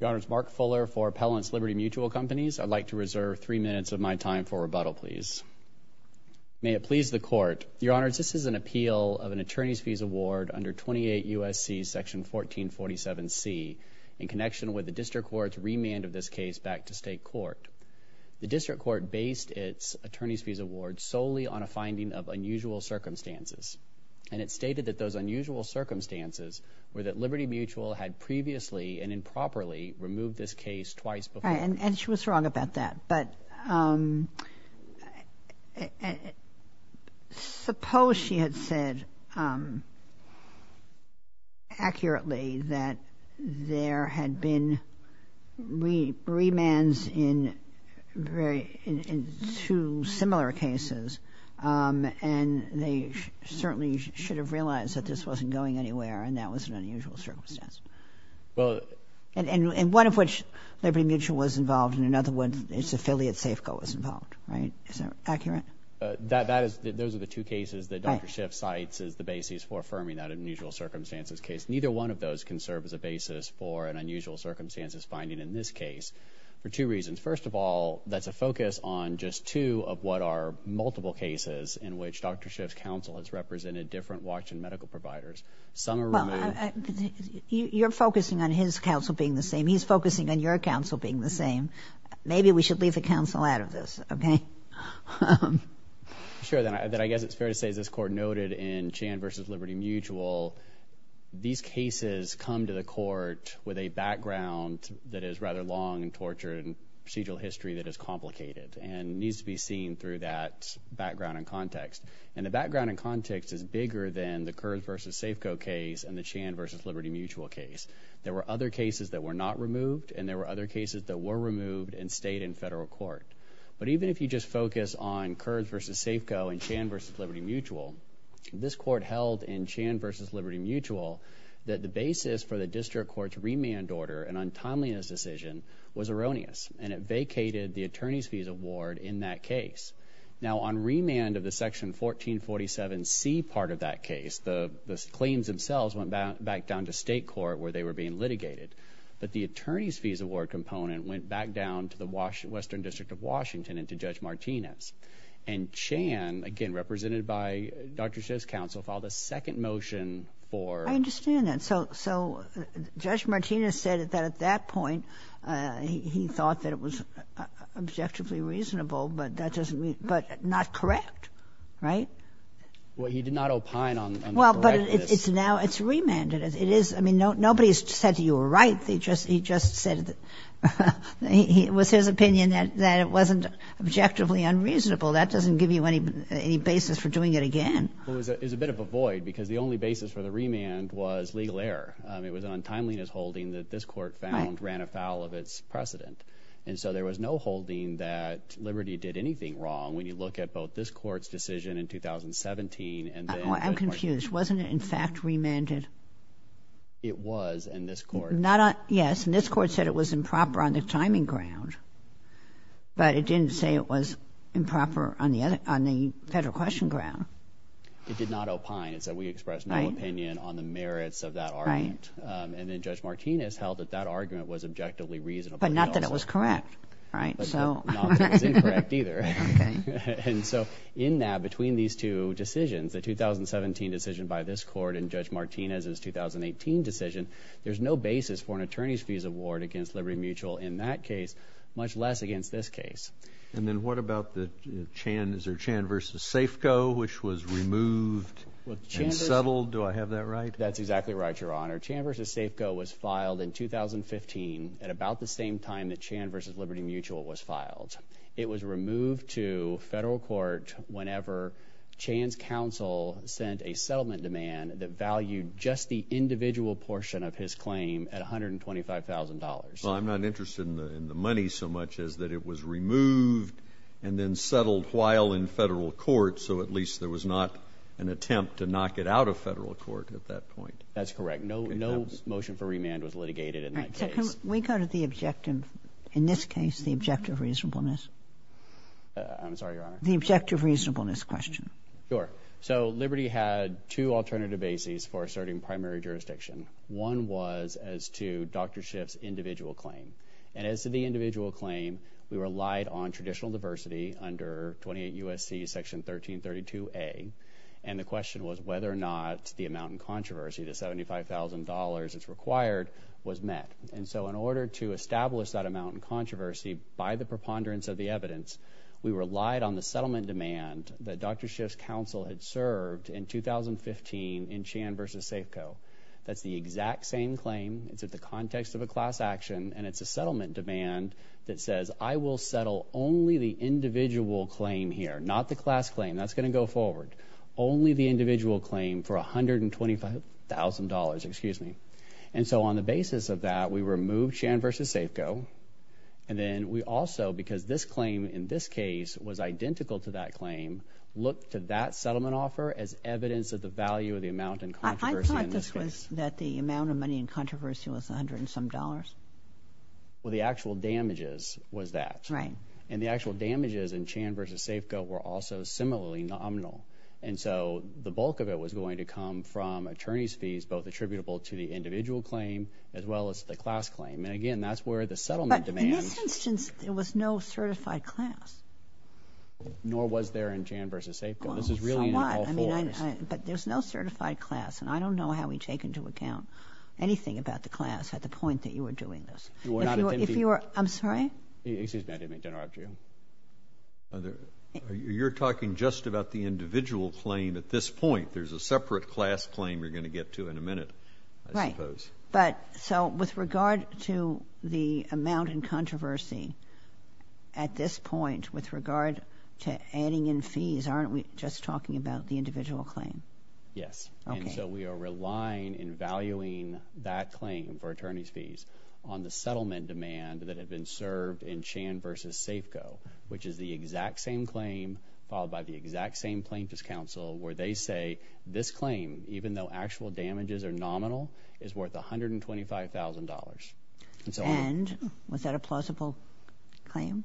Your Honors, Mark Fuller for Appellant's Liberty Mutual Companies. I'd like to reserve three minutes of my time for rebuttal, please. May it please the Court. Your Honors, this is an appeal of an attorney's fees award under 28 U.S.C. section 1447C in connection with the District Court's remand of this case back to state court. The District Court based its attorney's fees award solely on a finding of unusual circumstances, and it stated that those unusual were that Liberty Mutual had previously and improperly removed this case twice before. And she was wrong about that, but suppose she had said accurately that there had been remands in two similar cases, and they certainly should have realized that this wasn't going anywhere, and that was an unusual circumstance. And one of which, Liberty Mutual was involved, and another one, its affiliate Safeco, was involved, right? Is that accurate? That is, those are the two cases that Dr. Schiff cites as the basis for affirming that unusual circumstances case. Neither one of those can serve as a basis for an unusual circumstances finding in this case for two reasons. First of all, that's a focus on just two of what are multiple cases in which Dr. Schiff's represented different watch and medical providers. Some are removed. You're focusing on his counsel being the same. He's focusing on your counsel being the same. Maybe we should leave the counsel out of this, okay? Sure, then I guess it's fair to say, as this court noted in Chan versus Liberty Mutual, these cases come to the court with a background that is rather long and tortured and procedural history that is complicated and needs to be seen through that background and context. And the background and context is bigger than the Kurz versus Safeco case and the Chan versus Liberty Mutual case. There were other cases that were not removed, and there were other cases that were removed and stayed in federal court. But even if you just focus on Kurz versus Safeco and Chan versus Liberty Mutual, this court held in Chan versus Liberty Mutual that the basis for the district court's remand order and untimeliness decision was erroneous, and it vacated the attorney's fees award in that case. Now on remand of the Section 1447C part of that case, the claims themselves went back down to state court where they were being litigated. But the attorney's fees award component went back down to the Western District of Washington and to Judge Martinez. And Chan, again represented by Dr. Schiff's counsel, filed a second motion for- He thought that it was objectively reasonable, but that doesn't mean- but not correct, right? Well, he did not opine on- Well, but it's now- it's remanded. It is- I mean, nobody's said that you were right. They just- he just said that- it was his opinion that it wasn't objectively unreasonable. That doesn't give you any basis for doing it again. Well, it was a bit of a void because the only basis for the remand was legal error. It was an untimeliness holding that this court found ran afoul of its precedent. And so there was no holding that Liberty did anything wrong. When you look at both this court's decision in 2017 and then- I'm confused. Wasn't it in fact remanded? It was in this court. Not on- yes, and this court said it was improper on the timing ground. But it didn't say it was improper on the other- on the federal question ground. It did not opine. It said we expressed no opinion on the merits of that argument. And then Judge Martinez held that that argument was objectively reasonable. But not that it was correct, right? But not that it was incorrect either. And so in that, between these two decisions, the 2017 decision by this court and Judge Martinez's 2018 decision, there's no basis for an attorney's fees award against Liberty Mutual in that case, much less against this case. And then what about the Chan- is there Chan v. Safeco, which was removed and settled? Do I have that right? That's exactly right, Your Honor. Chan v. Safeco was filed in 2015 at about the same time that Chan v. Liberty Mutual was filed. It was removed to federal court whenever Chan's counsel sent a settlement demand that valued just the individual portion of his claim at $125,000. Well, I'm not interested in the money so much as that it was removed and then settled while in federal court, so at least there was not an attempt to knock it out of federal court at that point. That's correct. No motion for remand was litigated in that case. Can we go to the objective, in this case, the objective reasonableness? I'm sorry, Your Honor. The objective reasonableness question. Sure. So Liberty had two alternative bases for asserting primary jurisdiction. One was as to Dr. Schiff's individual claim. And as to the individual claim, we relied on traditional diversity under 28 U.S.C. Section 1332A, and the question was whether or not the amount in controversy, the $75,000 it's required, was met. And so in order to establish that amount in controversy by the preponderance of the evidence, we relied on the settlement demand that Dr. Schiff's counsel had served in 2015 in Chan v. Safeco. That's the exact same claim. It's at the context of a class action, and it's a settlement demand that says, I will settle only the individual claim here, not the class claim. That's going to go forward. Only the individual claim for $125,000, excuse me. And so on the basis of that, we removed Chan v. Safeco, and then we also, because this claim in this case was identical to that claim, looked to that settlement offer as evidence of the value of the amount in controversy in this case. That the amount of money in controversy was $100 and some dollars? Well, the actual damages was that. Right. And the actual damages in Chan v. Safeco were also similarly nominal. And so the bulk of it was going to come from attorney's fees, both attributable to the individual claim as well as the class claim. And again, that's where the settlement demand— But in this instance, there was no certified class. Nor was there in Chan v. Safeco. Well, somewhat. This is really in all fours. But there's no certified class, and I don't know how we take into account anything about the class at the point that you were doing this. You were not attempting— If you were—I'm sorry? Excuse me, I didn't mean to interrupt you. You're talking just about the individual claim at this point. There's a separate class claim you're going to get to in a minute, I suppose. Right. But so with regard to the amount in controversy at this point, with regard to adding in fees, aren't we just talking about the individual claim? Yes. And so we are relying and valuing that claim for attorney's fees on the settlement demand that had been served in Chan v. Safeco, which is the exact same claim followed by the exact same plaintiff's counsel, where they say this claim, even though actual damages are nominal, is worth $125,000. And was that a plausible claim?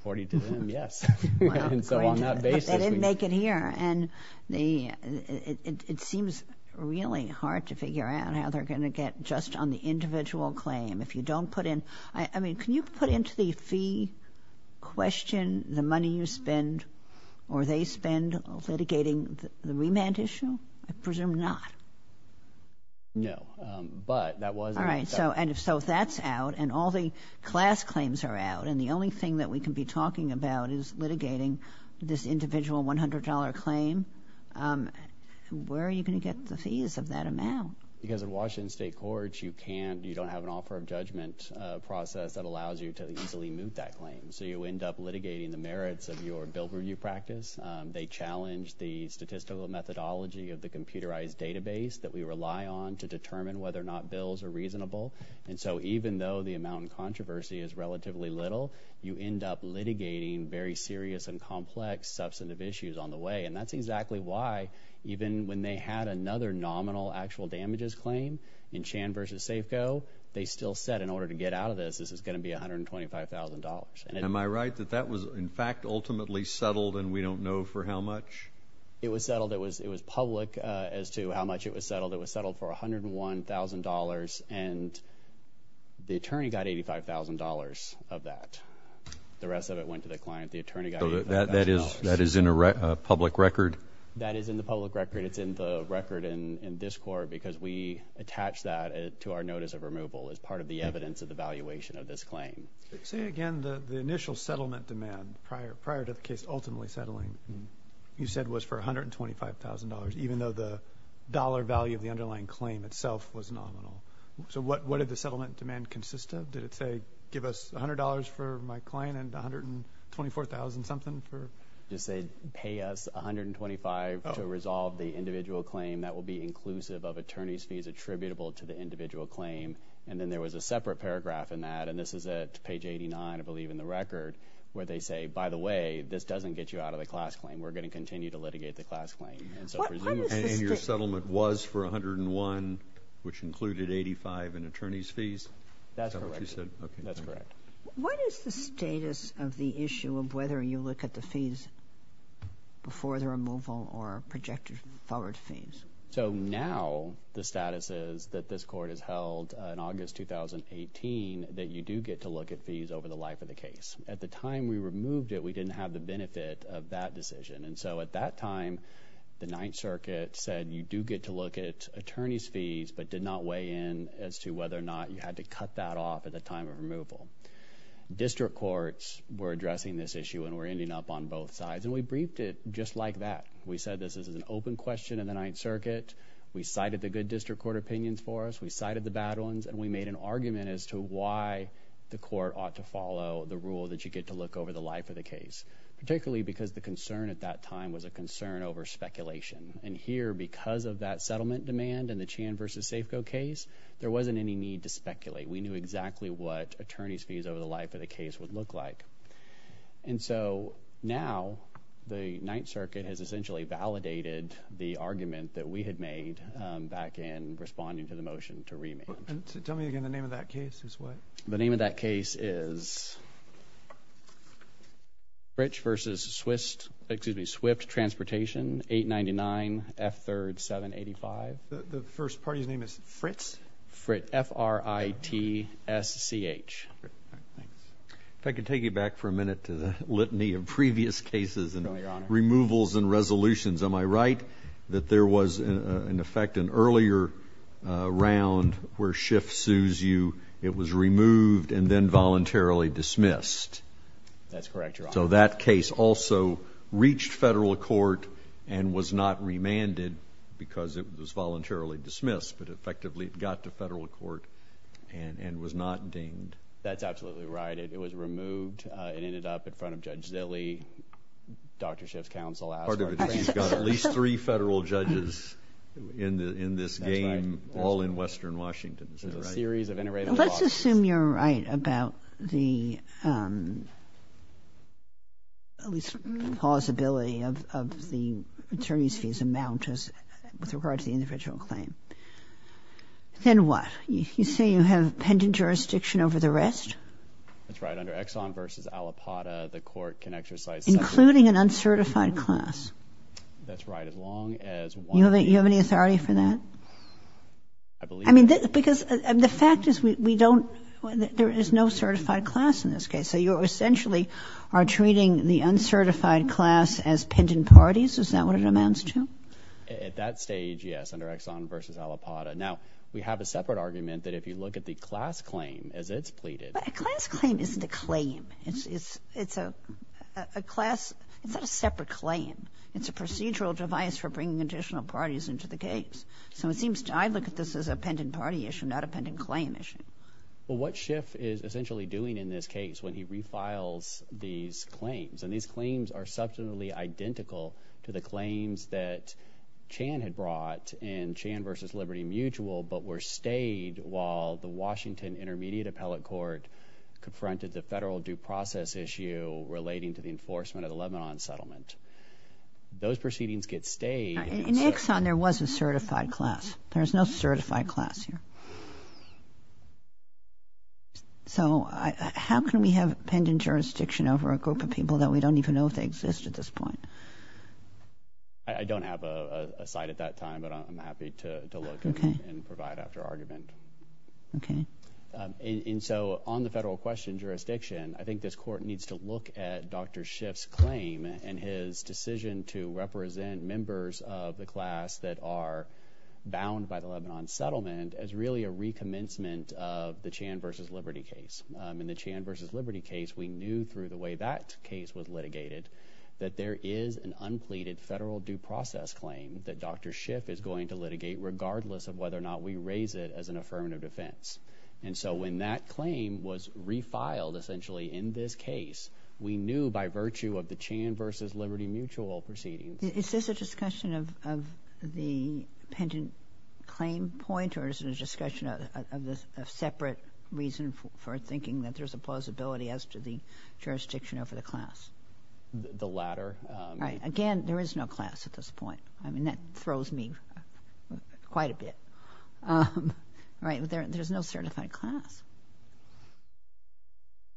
According to them, yes. And so on that basis— They didn't make it here, and it seems really hard to figure out how they're going to get just on the individual claim. If you don't put in—I mean, can you put into the fee question the money you spend or they spend litigating the remand issue? I presume not. No, but that was— All right, so if that's out and all the class claims are out and the only thing that we can be talking about is litigating this individual $100 claim, where are you going to get the fees of that amount? Because in Washington State courts, you don't have an offer of judgment process that allows you to easily move that claim. So you end up litigating the merits of your bill review practice. They challenge the statistical methodology of the computerized database that we rely on to determine whether or not bills are reasonable. And so even though the amount in controversy is relatively little, you end up litigating very serious and complex substantive issues on the way. And that's exactly why, even when they had another nominal actual damages claim in Chan v. Safeco, they still said in order to get out of this, this is going to be $125,000. Am I right that that was, in fact, ultimately settled and we don't know for how much? It was settled. It was public as to how much it was settled. It was settled for $101,000, and the attorney got $85,000 of that. The rest of it went to the client. The attorney got $85,000. So that is in a public record? That is in the public record. It's in the record in this court because we attach that to our notice of removal as part of the evidence of the valuation of this claim. Say again, the initial settlement demand prior to the case ultimately settling, you said, was for $125,000 even though the dollar value of the underlying claim itself was nominal. So what did the settlement demand consist of? Did it say give us $100 for my claim and $124,000 something? It just said pay us $125 to resolve the individual claim. That will be inclusive of attorney's fees attributable to the individual claim. And then there was a separate paragraph in that, and this is at page 89, I believe in the record, where they say, by the way, this doesn't get you out of the class claim. We're going to continue to litigate the class claim. And your settlement was for $101,000, which included $85,000 in attorney's fees? That's correct. What is the status of the issue of whether you look at the fees before the removal or projected forward fees? So now the status is that this court has held in August 2018 that you do get to look at fees over the life of the case. At the time we removed it, we didn't have the benefit of that decision. And so at that time, the Ninth Circuit said you do get to look at attorney's fees but did not weigh in as to whether or not you had to cut that off at the time of removal. District courts were addressing this issue, and we're ending up on both sides. And we briefed it just like that. We said this is an open question in the Ninth Circuit. We cited the good district court opinions for us. We cited the bad ones. And we made an argument as to why the court ought to follow the rule that you get to look over the life of the case, particularly because the concern at that time was a concern over speculation. And here, because of that settlement demand in the Chan v. Safeco case, there wasn't any need to speculate. We knew exactly what attorney's fees over the life of the case would look like. And so now the Ninth Circuit has essentially validated the argument that we had made back in responding to the motion to remand. Tell me again the name of that case is what? The name of that case is Fritsch v. Swift Transportation, 899 F3rd 785. The first party's name is Fritsch? Fritsch, F-R-I-T-S-C-H. If I could take you back for a minute to the litany of previous cases and removals and resolutions. Am I right that there was, in effect, an earlier round where Schiff sues you, it was removed and then voluntarily dismissed? That's correct, Your Honor. So that case also reached federal court and was not remanded because it was voluntarily dismissed, but effectively it got to federal court and was not deemed? That's absolutely right. It was removed and ended up in front of Judge Zille, Dr. Schiff's counsel. Part of it is you've got at least three federal judges in this game, all in western Washington. Let's assume you're right about the possibility of the attorney's fees amount with regard to the individual claim. Then what? You say you have pending jurisdiction over the rest? That's right. Under Exxon v. Alipata, the court can exercise. Including an uncertified class? That's right, as long as one. You have any authority for that? I believe so. Because the fact is we don't, there is no certified class in this case. So you essentially are treating the uncertified class as pending parties? Is that what it amounts to? At that stage, yes, under Exxon v. Alipata. Now, we have a separate argument that if you look at the class claim as it's pleaded. A class claim isn't a claim. It's a class, it's not a separate claim. It's a procedural device for bringing additional parties into the case. So it seems to, I look at this as a pending party issue, not a pending claim issue. Well, what Schiff is essentially doing in this case when he refiles these claims, and these claims are substantially identical to the claims that Chan had brought in Chan v. Liberty Mutual but were stayed while the Washington Intermediate Appellate Court confronted the federal due process issue relating to the enforcement of the Lebanon settlement. Those proceedings get stayed. In Exxon, there was a certified class. There is no certified class here. So how can we have pending jurisdiction over a group of people that we don't even know if they exist at this point? I don't have a site at that time, but I'm happy to look and provide after argument. Okay. And so on the federal question jurisdiction, I think this court needs to look at Dr. Schiff's claim and his decision to represent members of the class that are bound by the Lebanon settlement as really a recommencement of the Chan v. Liberty case. In the Chan v. Liberty case, we knew through the way that case was litigated that there is an unpleaded federal due process claim that Dr. Schiff is going to litigate regardless of whether or not we raise it as an affirmative defense. And so when that claim was refiled essentially in this case, we knew by virtue of the Chan v. Liberty mutual proceedings. Is this a discussion of the pending claim point or is it a discussion of a separate reason for thinking that there's a plausibility as to the jurisdiction over the class? The latter. Right. Again, there is no class at this point. I mean, that throws me quite a bit. Right. There's no certified class.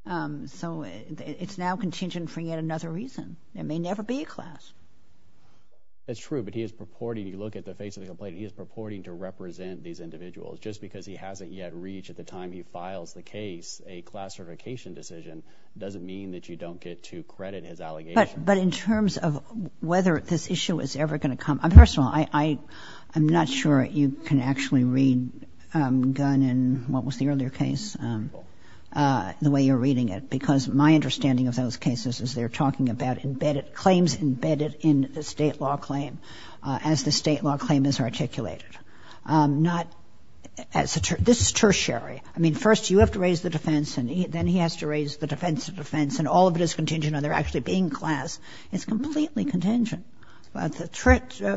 So, it's now contingent for yet another reason. There may never be a class. That's true, but he is purporting, you look at the face of the complaint, he is purporting to represent these individuals. Just because he hasn't yet reached at the time he files the case a class certification decision doesn't mean that you don't get to credit his allegations. But in terms of whether this issue is ever going to come, I'm not sure you can actually read Gunn in what was the earlier case, the way you're reading it, because my understanding of those cases is they're talking about claims embedded in a state law claim as the state law claim is articulated. This is tertiary. I mean, first you have to raise the defense and then he has to raise the defense to It's completely contingent.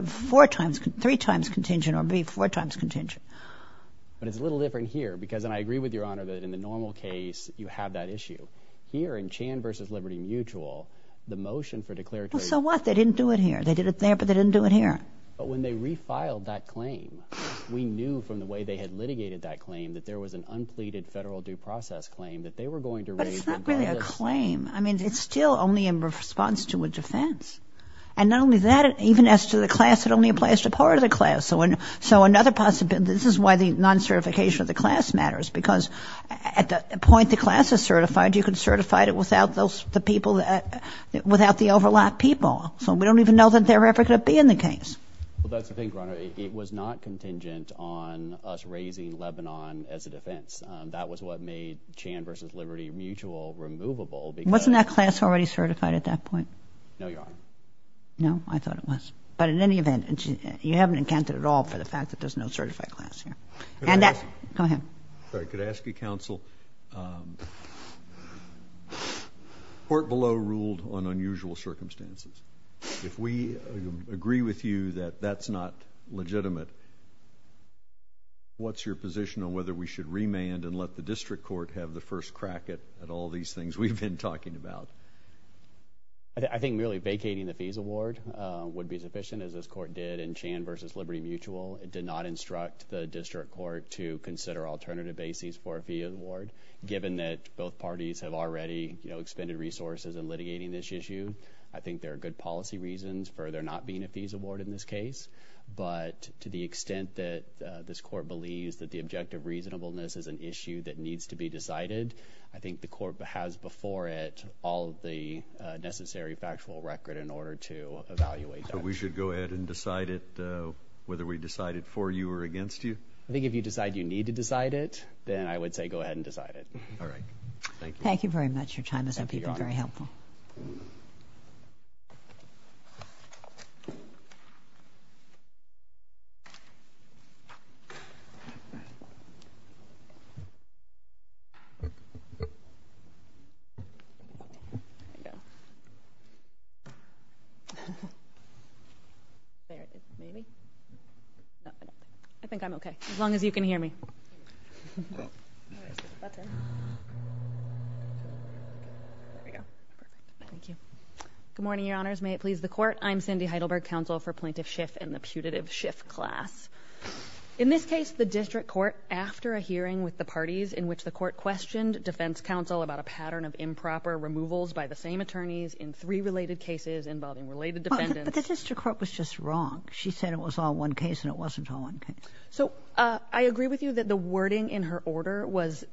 Four times, three times contingent or maybe four times contingent. But it's a little different here because, and I agree with your Honor, that in the normal case, you have that issue. Here in Chan v. Liberty Mutual, the motion for declaratory... So what? They didn't do it here. They did it there, but they didn't do it here. But when they refiled that claim, we knew from the way they had litigated that claim that there was an unpleaded federal due process claim that they were going to raise... But it's not really a claim. I mean, it's still only in response to a defense. And not only that, even as to the class, it only applies to part of the class. So another possibility... This is why the non-certification of the class matters, because at the point the class is certified, you can certify it without the overlap people. So we don't even know that they're ever going to be in the case. Well, that's the thing, Your Honor. It was not contingent on us raising Lebanon as a defense. That was what made Chan v. Liberty Mutual removable, because... Wasn't that class already certified at that point? No, Your Honor. No? I thought it was. But in any event, you haven't accounted at all for the fact that there's no certified class here. And that... Go ahead. Could I ask you, Counsel? Court below ruled on unusual circumstances. If we agree with you that that's not legitimate, what's your position on whether we should remand and let the District Court have the first crack at all these things we've been talking about? I think merely vacating the fees award would be sufficient, as this Court did in Chan v. Liberty Mutual. It did not instruct the District Court to consider alternative bases for a fees award. Given that both parties have already expended resources in litigating this issue, I think there are good policy reasons for there not being a fees award in this case. But to the extent that this Court believes that the objective reasonableness is an issue that needs to be decided, I think the Court has before it all of the necessary factual record in order to evaluate that. So we should go ahead and decide it, whether we decide it for you or against you? I think if you decide you need to decide it, then I would say go ahead and decide it. All right. Thank you. Your time has been very helpful. Thank you, Your Honor. Thank you. I think I'm okay, as long as you can hear me. Good morning, Your Honors. May it please the Court. I'm Cindy Heidelberg, counsel for Plaintiff Schiff and the putative Schiff class. In this case, the District Court, after a hearing with the parties in which the Court questioned defense counsel about a pattern of improper removals by the same attorneys in three related cases involving related defendants. But the District Court was just wrong. She said it was all one case, and it wasn't all one case. So I agree with you that the wording in her order was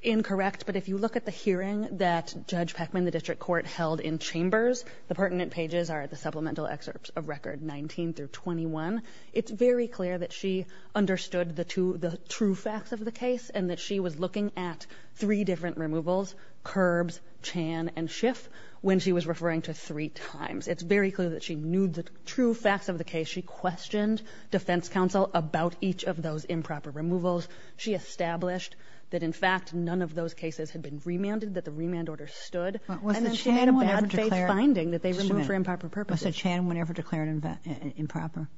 incorrect, but if you look at the hearing that Judge Peckman, the District Court, held in Chambers, the pertinent pages are the supplemental excerpts of Record 19 through 21. It's very clear that she understood the true facts of the case and that she was looking at three different removals, Curbs, Chan, and Schiff, when she was referring to three times. It's very clear that she knew the true facts of the case. She questioned defense counsel about each of those improper removals. She established that, in fact, none of those cases had been remanded, that the remand order stood. And then she made a bad-faith finding that they removed for improper purposes. Was the Chan one ever declared improper?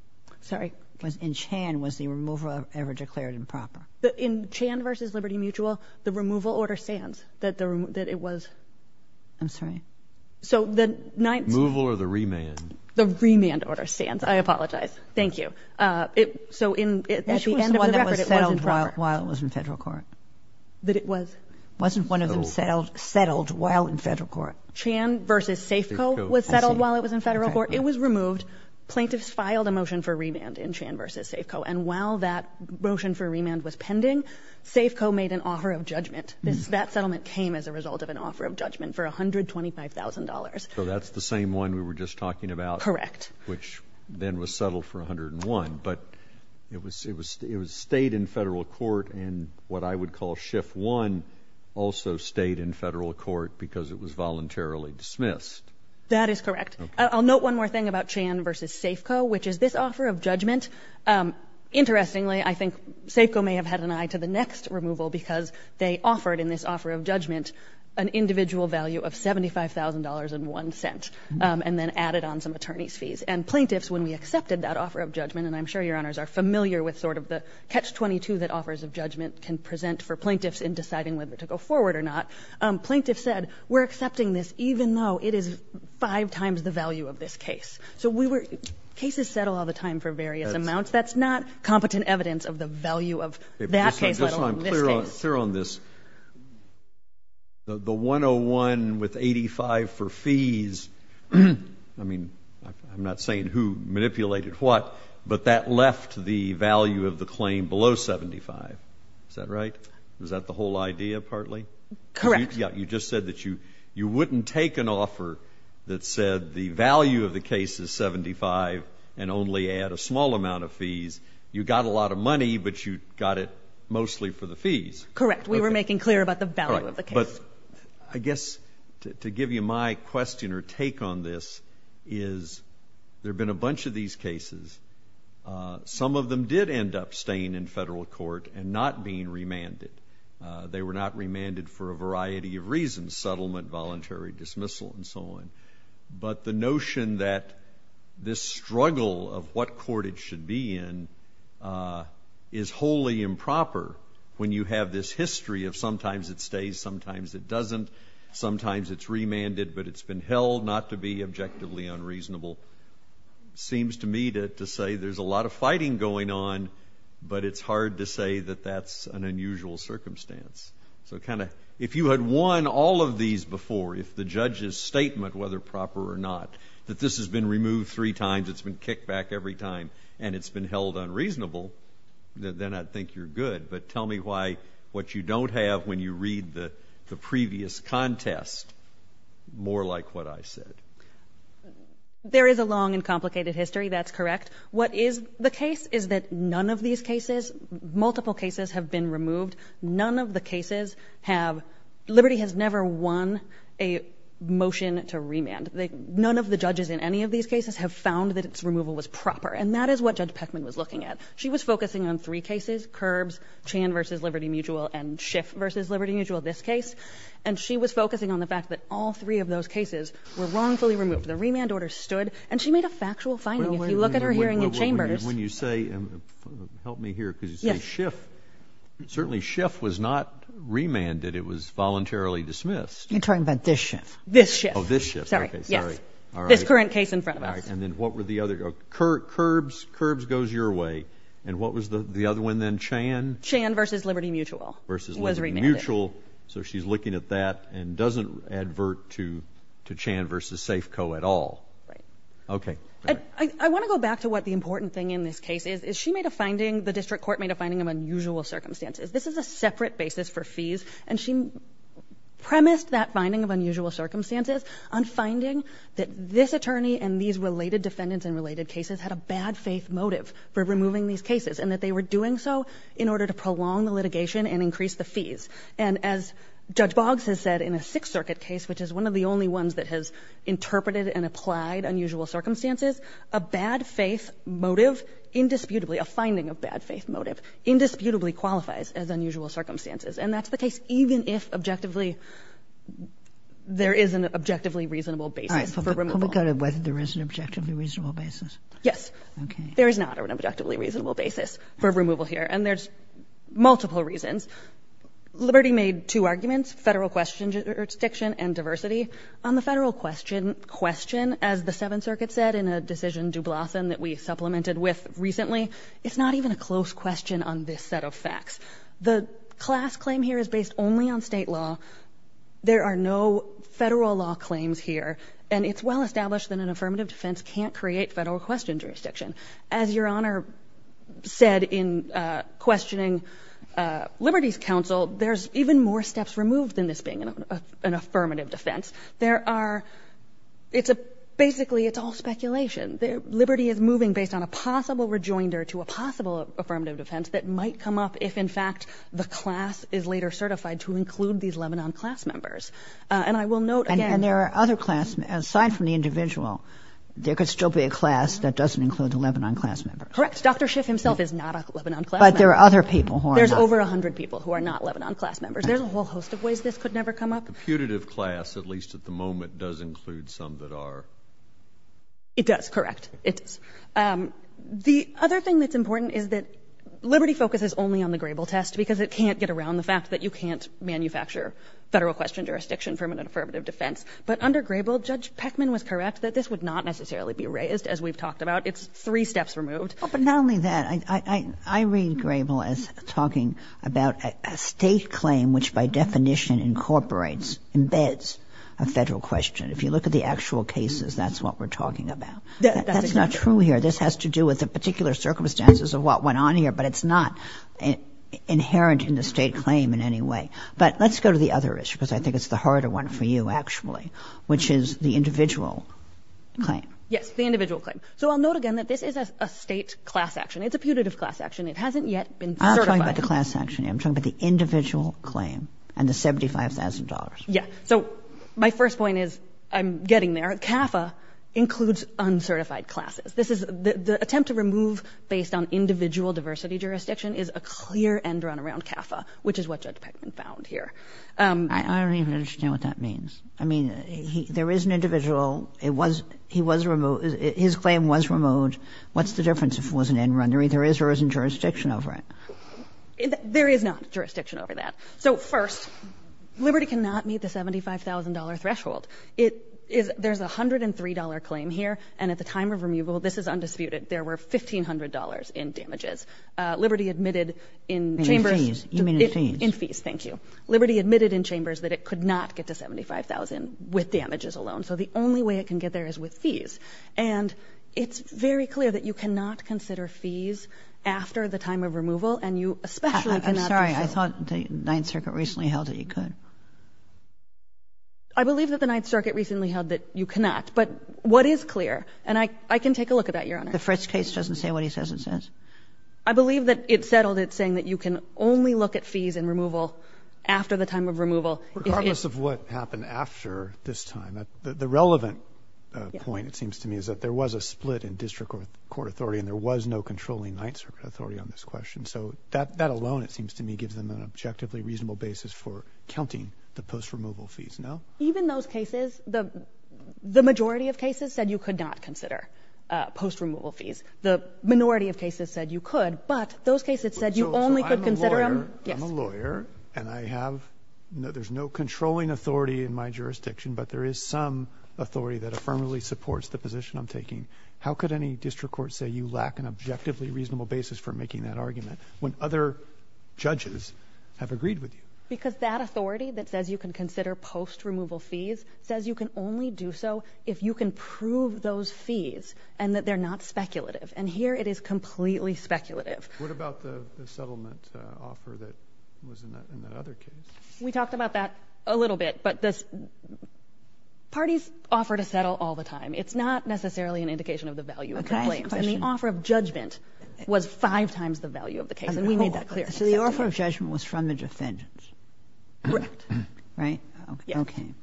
Sorry? In Chan, was the removal ever declared improper? In Chan v. Liberty Mutual, the removal order stands, that it was. I'm sorry? So the ninth — Removal or the remand? The remand order stands. I apologize. Thank you. So at the end of the record, it was improper. Which was the one that was settled while it was in Federal court? That it was. Wasn't one of them settled while in Federal court? Chan v. Safeco was settled while it was in Federal court. It was removed. Plaintiffs filed a motion for remand in Chan v. Safeco. And while that motion for remand was pending, Safeco made an offer of judgment. That settlement came as a result of an offer of judgment for $125,000. So that's the same one we were just talking about. Correct. Which then was settled for $101,000. But it stayed in Federal court, and what I would call shift one also stayed in Federal court because it was voluntarily dismissed. That is correct. I'll note one more thing about Chan v. Safeco, which is this offer of judgment. Interestingly, I think Safeco may have had an eye to the next removal because they offered in this offer of judgment an individual value of $75,000.01 and then added on some attorney's fees. And plaintiffs, when we accepted that offer of judgment, and I'm sure Your Honors are familiar with sort of the catch-22 that offers of judgment can present for plaintiffs in deciding whether to go forward or not, plaintiffs said we're accepting this even though it is five times the value of this case. So cases settle all the time for various amounts. That's not competent evidence of the value of that case, let alone this case. Let's hear on this. The $101,000.01 with $85,000.00 for fees, I mean, I'm not saying who manipulated what, but that left the value of the claim below $75,000.00. Is that right? Was that the whole idea, partly? Correct. You just said that you wouldn't take an offer that said the value of the case is $75,000.00 and only add a small amount of fees. You got a lot of money, but you got it mostly for the fees. Correct. We were making clear about the value of the case. But I guess to give you my question or take on this is there have been a bunch of these cases. Some of them did end up staying in federal court and not being remanded. They were not remanded for a variety of reasons, settlement, voluntary dismissal, and so on. But the notion that this struggle of what court it should be in is wholly improper when you have this history of sometimes it stays, sometimes it doesn't. Sometimes it's remanded, but it's been held not to be objectively unreasonable. It seems to me to say there's a lot of fighting going on, but it's hard to say that that's an unusual circumstance. If you had won all of these before, if the judge's statement, whether proper or not, that this has been removed three times, it's been kicked back every time, and it's been held unreasonable, then I'd think you're good. But tell me why what you don't have when you read the previous contest, more like what I said. There is a long and complicated history. That's correct. What is the case is that none of these cases, multiple cases, have been removed. None of the cases have—Liberty has never won a motion to remand. None of the judges in any of these cases have found that its removal was proper, and that is what Judge Peckman was looking at. She was focusing on three cases, Curbs, Chan v. Liberty Mutual, and Schiff v. Liberty Mutual, this case, and she was focusing on the fact that all three of those cases were wrongfully removed. The remand order stood, and she made a factual finding. If you look at her hearing at Chambers— The Schiff was not remanded. It was voluntarily dismissed. You're talking about this Schiff. This Schiff. Oh, this Schiff. Sorry, yes. This current case in front of us. All right, and then what were the other—Curbs goes your way, and what was the other one then, Chan? Chan v. Liberty Mutual was remanded. Mutual, so she's looking at that and doesn't advert to Chan v. Safeco at all. Right. Okay. I want to go back to what the important thing in this case is. She made a finding—the district court made a finding of unusual circumstances. This is a separate basis for fees, and she premised that finding of unusual circumstances on finding that this attorney and these related defendants in related cases had a bad faith motive for removing these cases, and that they were doing so in order to prolong the litigation and increase the fees. And as Judge Boggs has said in a Sixth Circuit case, which is one of the only ones that has interpreted and applied unusual circumstances, a bad faith motive indisputably—a finding of bad faith motive indisputably qualifies as unusual circumstances. And that's the case even if objectively—there is an objectively reasonable basis for removal. All right. Can we go to whether there is an objectively reasonable basis? Yes. Okay. There is not an objectively reasonable basis for removal here, and there's multiple reasons. Liberty made two arguments, Federal question jurisdiction and diversity. On the Federal question, as the Seventh Circuit said in a decision, Dublathan, that we supplemented with recently, it's not even a close question on this set of facts. The class claim here is based only on State law. There are no Federal law claims here, and it's well established that an affirmative defense can't create Federal question jurisdiction. As Your Honor said in questioning Liberty's counsel, there's even more steps removed than this being an affirmative defense. There are—it's a—basically it's all speculation. Liberty is moving based on a possible rejoinder to a possible affirmative defense that might come up if in fact the class is later certified to include these Lebanon class members. And I will note again— And there are other class—aside from the individual, there could still be a class that doesn't include the Lebanon class members. Correct. Dr. Schiff himself is not a Lebanon class member. But there are other people who are not. There's over 100 people who are not Lebanon class members. There's a whole host of ways this could never come up. The putative class, at least at the moment, does include some that are— It does, correct. It does. The other thing that's important is that Liberty focuses only on the Grable test because it can't get around the fact that you can't manufacture Federal question jurisdiction from an affirmative defense. But under Grable, Judge Peckman was correct that this would not necessarily be raised, as we've talked about. It's three steps removed. But not only that, I read Grable as talking about a state claim which by definition incorporates, embeds a Federal question. If you look at the actual cases, that's what we're talking about. That's not true here. This has to do with the particular circumstances of what went on here, but it's not inherent in the state claim in any way. But let's go to the other issue because I think it's the harder one for you, actually, which is the individual claim. Yes, the individual claim. So I'll note again that this is a state class action. It's a putative class action. It hasn't yet been certified. I'm not talking about the class action here. I'm talking about the individual claim and the $75,000. Yes. So my first point is, I'm getting there, CAFA includes uncertified classes. This is — the attempt to remove based on individual diversity jurisdiction is a clear end run around CAFA, which is what Judge Peckman found here. I don't even understand what that means. I mean, there is an individual. He was removed. His claim was removed. What's the difference if it was an end run? There is or isn't jurisdiction over it. There is not jurisdiction over that. So, first, Liberty cannot meet the $75,000 threshold. It is — there's a $103 claim here, and at the time of removal, this is undisputed, there were $1,500 in damages. Liberty admitted in chambers — In fees. You mean in fees. In fees, thank you. Liberty admitted in chambers that it could not get to $75,000 with damages alone. So the only way it can get there is with fees. And it's very clear that you cannot consider fees after the time of removal, and you especially cannot consider — I'm sorry. I thought the Ninth Circuit recently held that you could. I believe that the Ninth Circuit recently held that you cannot. But what is clear — and I can take a look at that, Your Honor. The Fritz case doesn't say what he says it says. I believe that it settled it saying that you can only look at fees in removal after the time of removal. Regardless of what happened after this time, the relevant point, it seems to me, is that there was a split in district court authority, and there was no controlling Ninth Circuit authority on this question. So that alone, it seems to me, gives them an objectively reasonable basis for counting the post-removal fees, no? Even those cases, the majority of cases said you could not consider post-removal fees. The minority of cases said you could, but those cases said you only could consider — I'm a lawyer, and I have — there's no controlling authority in my jurisdiction, but there is some authority that affirmatively supports the position I'm taking. How could any district court say you lack an objectively reasonable basis for making that argument when other judges have agreed with you? Because that authority that says you can consider post-removal fees says you can only do so if you can prove those fees and that they're not speculative. And here it is completely speculative. What about the settlement offer that was in that other case? We talked about that a little bit, but parties offer to settle all the time. It's not necessarily an indication of the value of the claims. Can I ask a question? And the offer of judgment was five times the value of the case, and we made that clear. So the offer of judgment was from the defendants? Correct. Right? Yes. Okay.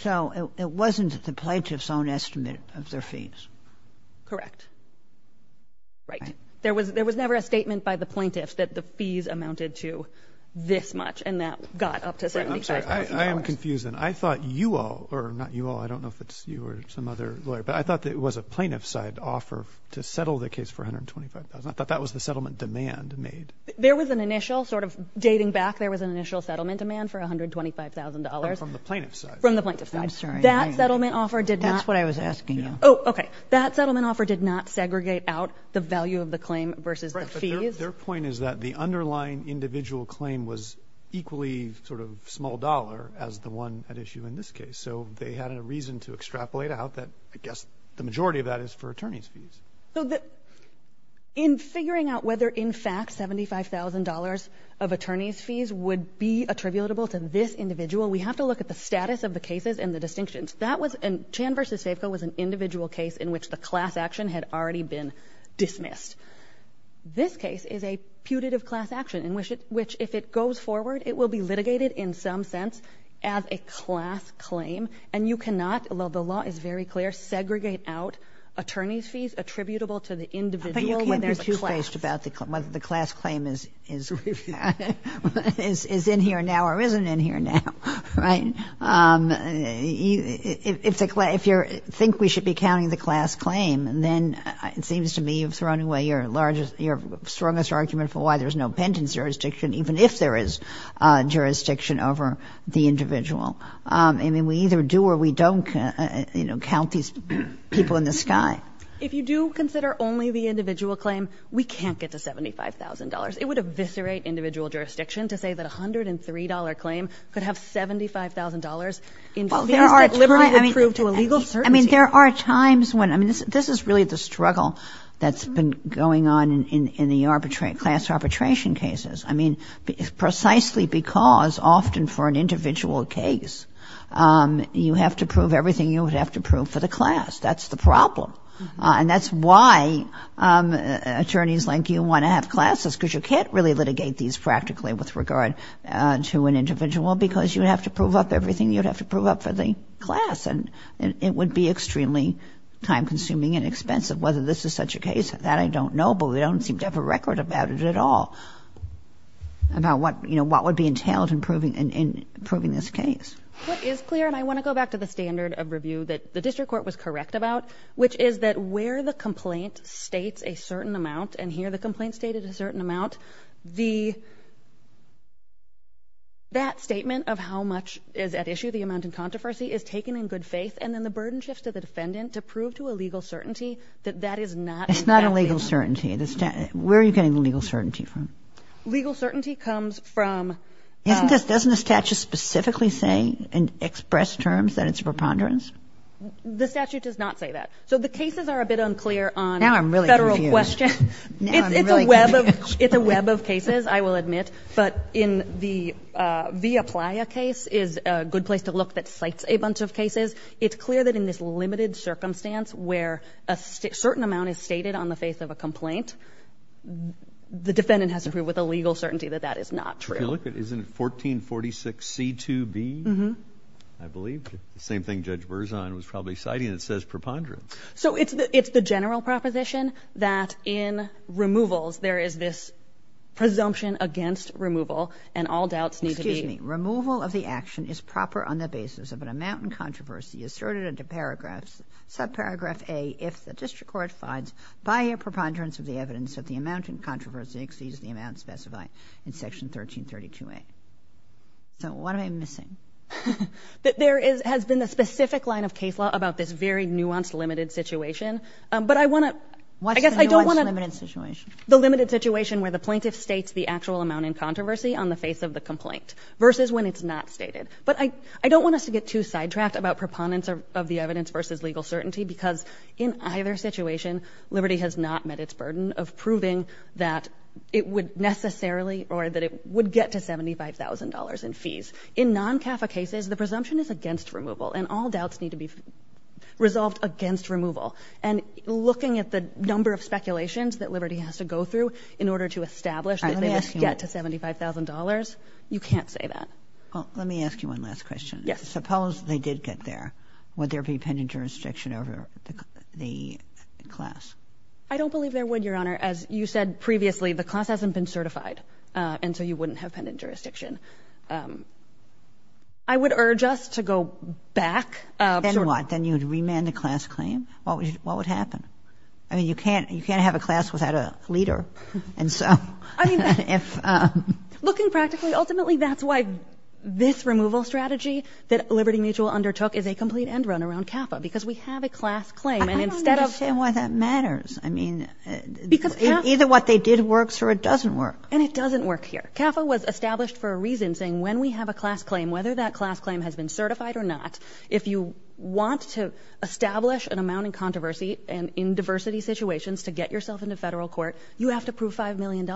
So it wasn't the plaintiff's own estimate of their fees? Correct. Right. There was never a statement by the plaintiff that the fees amounted to this much and that got up to $75,000. I'm sorry. I am confused, and I thought you all, or not you all. I don't know if it's you or some other lawyer, but I thought that it was a plaintiff's side offer to settle the case for $125,000. I thought that was the settlement demand made. There was an initial sort of dating back. There was an initial settlement demand for $125,000. From the plaintiff's side. From the plaintiff's side. I'm sorry. That settlement offer did not. That's what I was asking you. Oh, okay. That settlement offer did not segregate out the value of the claim versus the fees? Their point is that the underlying individual claim was equally sort of small dollar as the one at issue in this case. So they had a reason to extrapolate out that, I guess, the majority of that is for attorney's fees. In figuring out whether, in fact, $75,000 of attorney's fees would be attributable to this individual, we have to look at the status of the cases and the distinctions. Chan v. Faveco was an individual case in which the class action had already been dismissed. This case is a putative class action in which, if it goes forward, it will be litigated in some sense as a class claim. And you cannot, although the law is very clear, segregate out attorney's fees attributable to the individual when there's a class. But you can't be too spaced about whether the class claim is in here now or isn't in here now. Right? If you think we should be counting the class claim, then it seems to me you've thrown away your strongest argument for why there's no pentence jurisdiction, even if there is jurisdiction over the individual. I mean, we either do or we don't count these people in the sky. If you do consider only the individual claim, we can't get to $75,000. It would eviscerate individual jurisdiction to say that a $103 claim could have $75,000 in fees that liberally would prove to a legal certainty. I mean, there are times when, I mean, this is really the struggle that's been going on in the class arbitration cases. I mean, precisely because often for an individual case, you have to prove everything you would have to prove for the class. That's the problem. And that's why attorneys like you want to have classes because you can't really litigate these practically with regard to an individual because you would have to prove up everything you would have to prove up for the class. And it would be extremely time-consuming and expensive. Whether this is such a case, that I don't know, but we don't seem to have a record about it at all, about what would be entailed in proving this case. What is clear, and I want to go back to the standard of review that the district court was correct about, which is that where the complaint states a certain amount, and here the complaint stated a certain amount, that statement of how much is at issue, the amount in controversy, is taken in good faith. And then the burden shifts to the defendant to prove to a legal certainty that that is not in that statement. It's not a legal certainty. Where are you getting the legal certainty from? Legal certainty comes from... Doesn't the statute specifically say in express terms that it's a preponderance? The statute does not say that. So the cases are a bit unclear on federal questions. It's a web of cases, I will admit, but in the Via Playa case is a good place to look that cites a bunch of cases. It's clear that in this limited circumstance where a certain amount is stated on the face of a complaint, the defendant has to prove with a legal certainty that that is not true. Isn't it 1446C2B? I believe the same thing Judge Verzon was probably citing. It says preponderance. So it's the general proposition that in removals there is this presumption against removal and all doubts need to be... Excuse me. Removal of the action is proper on the basis of an amount in controversy asserted into paragraphs, subparagraph A, if the district court finds by a preponderance of the evidence that the amount in controversy exceeds the amount specified in Section 1332A. So what am I missing? There has been a specific line of case law about this very nuanced, limited situation, but I want to... What's the nuanced, limited situation? The limited situation where the plaintiff states the actual amount in controversy on the face of the complaint versus when it's not stated. But I don't want us to get too sidetracked about preponderance of the evidence versus legal certainty because in either situation, liberty has not met its burden of proving that it would necessarily or that it would get to $75,000 in fees. In non-CAFA cases, the presumption is against removal and all doubts need to be resolved against removal. And looking at the number of speculations that liberty has to go through in order to establish that they would get to $75,000, you can't say that. Well, let me ask you one last question. Suppose they did get there. Would there be pending jurisdiction over the class? I don't believe there would, Your Honor. As you said previously, the class hasn't been certified, and so you wouldn't have pending jurisdiction. I would urge us to go back. Then what? Then you would remand the class claim? What would happen? I mean, you can't have a class without a leader. I mean, looking practically, ultimately that's why this removal strategy that Liberty Mutual undertook is a complete end run around CAFA because we have a class claim. I don't understand why that matters. I mean, either what they did works or it doesn't work. And it doesn't work here. CAFA was established for a reason, saying when we have a class claim, whether that class claim has been certified or not, if you want to establish an amount in controversy and in diversity situations to get yourself into federal court, you have to prove $5 million.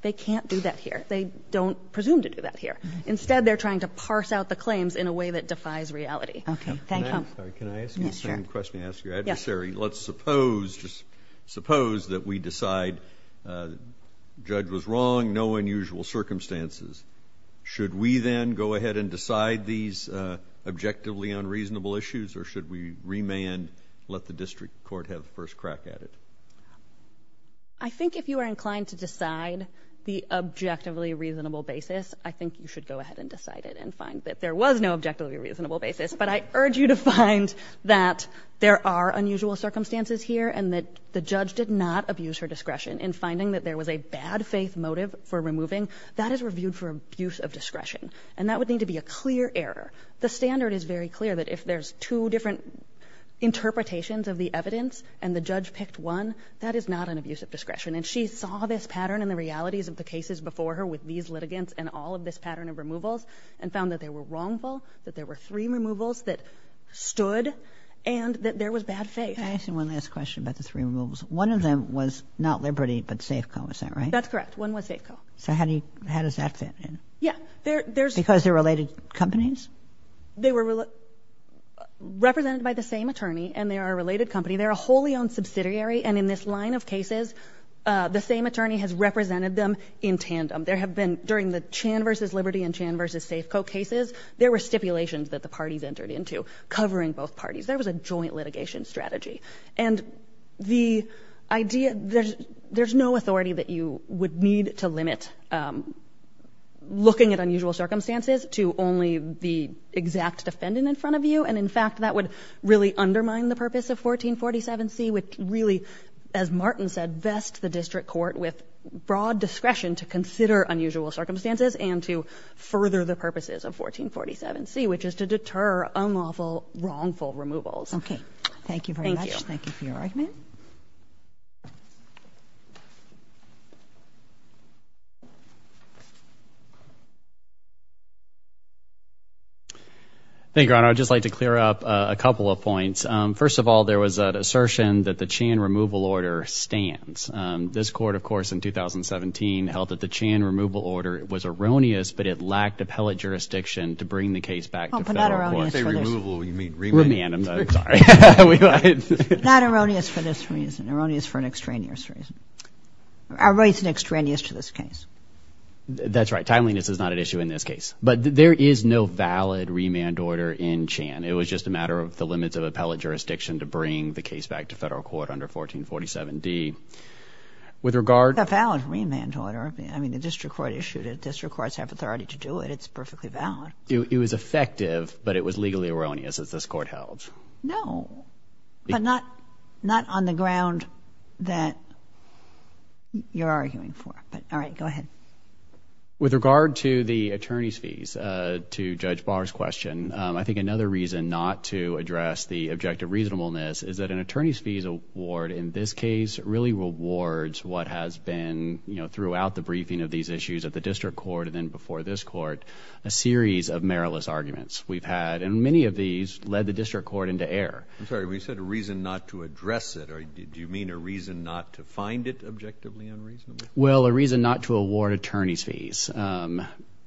They can't do that here. They don't presume to do that here. Instead, they're trying to parse out the claims in a way that defies reality. Okay. Thank you. Can I ask you the same question you asked your adversary? Let's suppose that we decide the judge was wrong, finding no unusual circumstances. Should we then go ahead and decide these objectively unreasonable issues or should we remand, let the district court have the first crack at it? I think if you are inclined to decide the objectively reasonable basis, I think you should go ahead and decide it and find that there was no objectively reasonable basis. But I urge you to find that there are unusual circumstances here and that the judge did not abuse her discretion in finding that there was a bad faith motive for removing. That is reviewed for abuse of discretion, and that would need to be a clear error. The standard is very clear that if there's two different interpretations of the evidence and the judge picked one, that is not an abuse of discretion. And she saw this pattern and the realities of the cases before her with these litigants and all of this pattern of removals and found that they were wrongful, that there were three removals that stood, and that there was bad faith. Can I ask you one last question about the three removals? One of them was not Liberty but Safeco, is that right? That's correct. One was Safeco. So how does that fit in? Yeah. Because they're related companies? They were represented by the same attorney, and they are a related company. They're a wholly owned subsidiary, and in this line of cases, the same attorney has represented them in tandem. There have been, during the Chan v. Liberty and Chan v. Safeco cases, there were stipulations that the parties entered into covering both parties. There was a joint litigation strategy. And there's no authority that you would need to limit looking at unusual circumstances to only the exact defendant in front of you, and, in fact, that would really undermine the purpose of 1447C, which really, as Martin said, vests the district court with broad discretion to consider unusual circumstances and to further the purposes of 1447C, which is to deter unlawful, wrongful removals. Okay. Thank you very much. Thank you. Thank you for your argument. Thank you, Your Honor. I'd just like to clear up a couple of points. First of all, there was an assertion that the Chan removal order stands. This court, of course, in 2017 held that the Chan removal order was erroneous, but it lacked appellate jurisdiction to bring the case back to federal court. Oh, but not erroneous. Remand. I'm sorry. Not erroneous for this reason. Erroneous for an extraneous reason. Erroneous and extraneous to this case. That's right. Timeliness is not an issue in this case. But there is no valid remand order in Chan. It was just a matter of the limits of appellate jurisdiction to bring the case back to federal court under 1447D. With regard to the valid remand order, I mean, the district court issued it. District courts have authority to do it. It's perfectly valid. It was effective, but it was legally erroneous as this court held. No, but not on the ground that you're arguing for. All right. Go ahead. With regard to the attorney's fees, to Judge Barr's question, I think another reason not to address the objective reasonableness is that an attorney's fees award in this case really rewards what has been, you know, throughout the briefing of these issues at the district court and then before this court, a series of meriless arguments we've had. And many of these led the district court into error. I'm sorry. You said a reason not to address it. Do you mean a reason not to find it objectively and reasonably? Well, a reason not to award attorney's fees.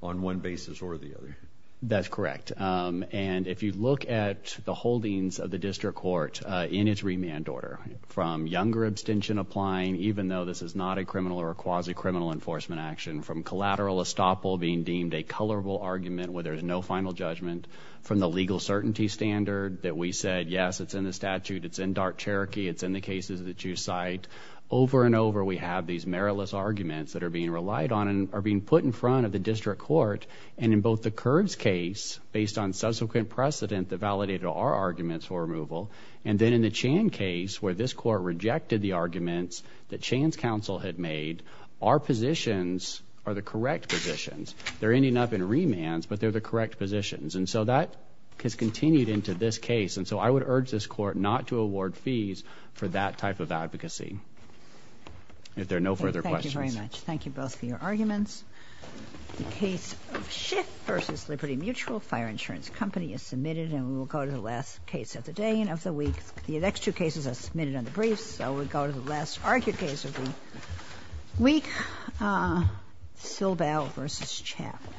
On one basis or the other. That's correct. And if you look at the holdings of the district court in its remand order, from younger abstention applying even though this is not a criminal or quasi-criminal enforcement action, from collateral estoppel being deemed a colorable argument where there's no final judgment, from the legal certainty standard that we said, yes, it's in the statute, it's in dark Cherokee, it's in the cases that you cite, over and over we have these meritless arguments that are being relied on and are being put in front of the district court. And in both the Curbs case, based on subsequent precedent that validated our arguments for removal, and then in the Chan case where this court rejected the arguments that Chan's counsel had made, our positions are the correct positions. They're ending up in remands, but they're the correct positions. And so that has continued into this case. And so I would urge this court not to award fees for that type of advocacy. If there are no further questions. Thank you very much. Thank you both for your arguments. The case of Schiff v. Liberty Mutual Fire Insurance Company is submitted, and we will go to the last case of the day and of the week. The next two cases are submitted on the briefs, so we'll go to the last argued case of the week, Silbel v. Chapman.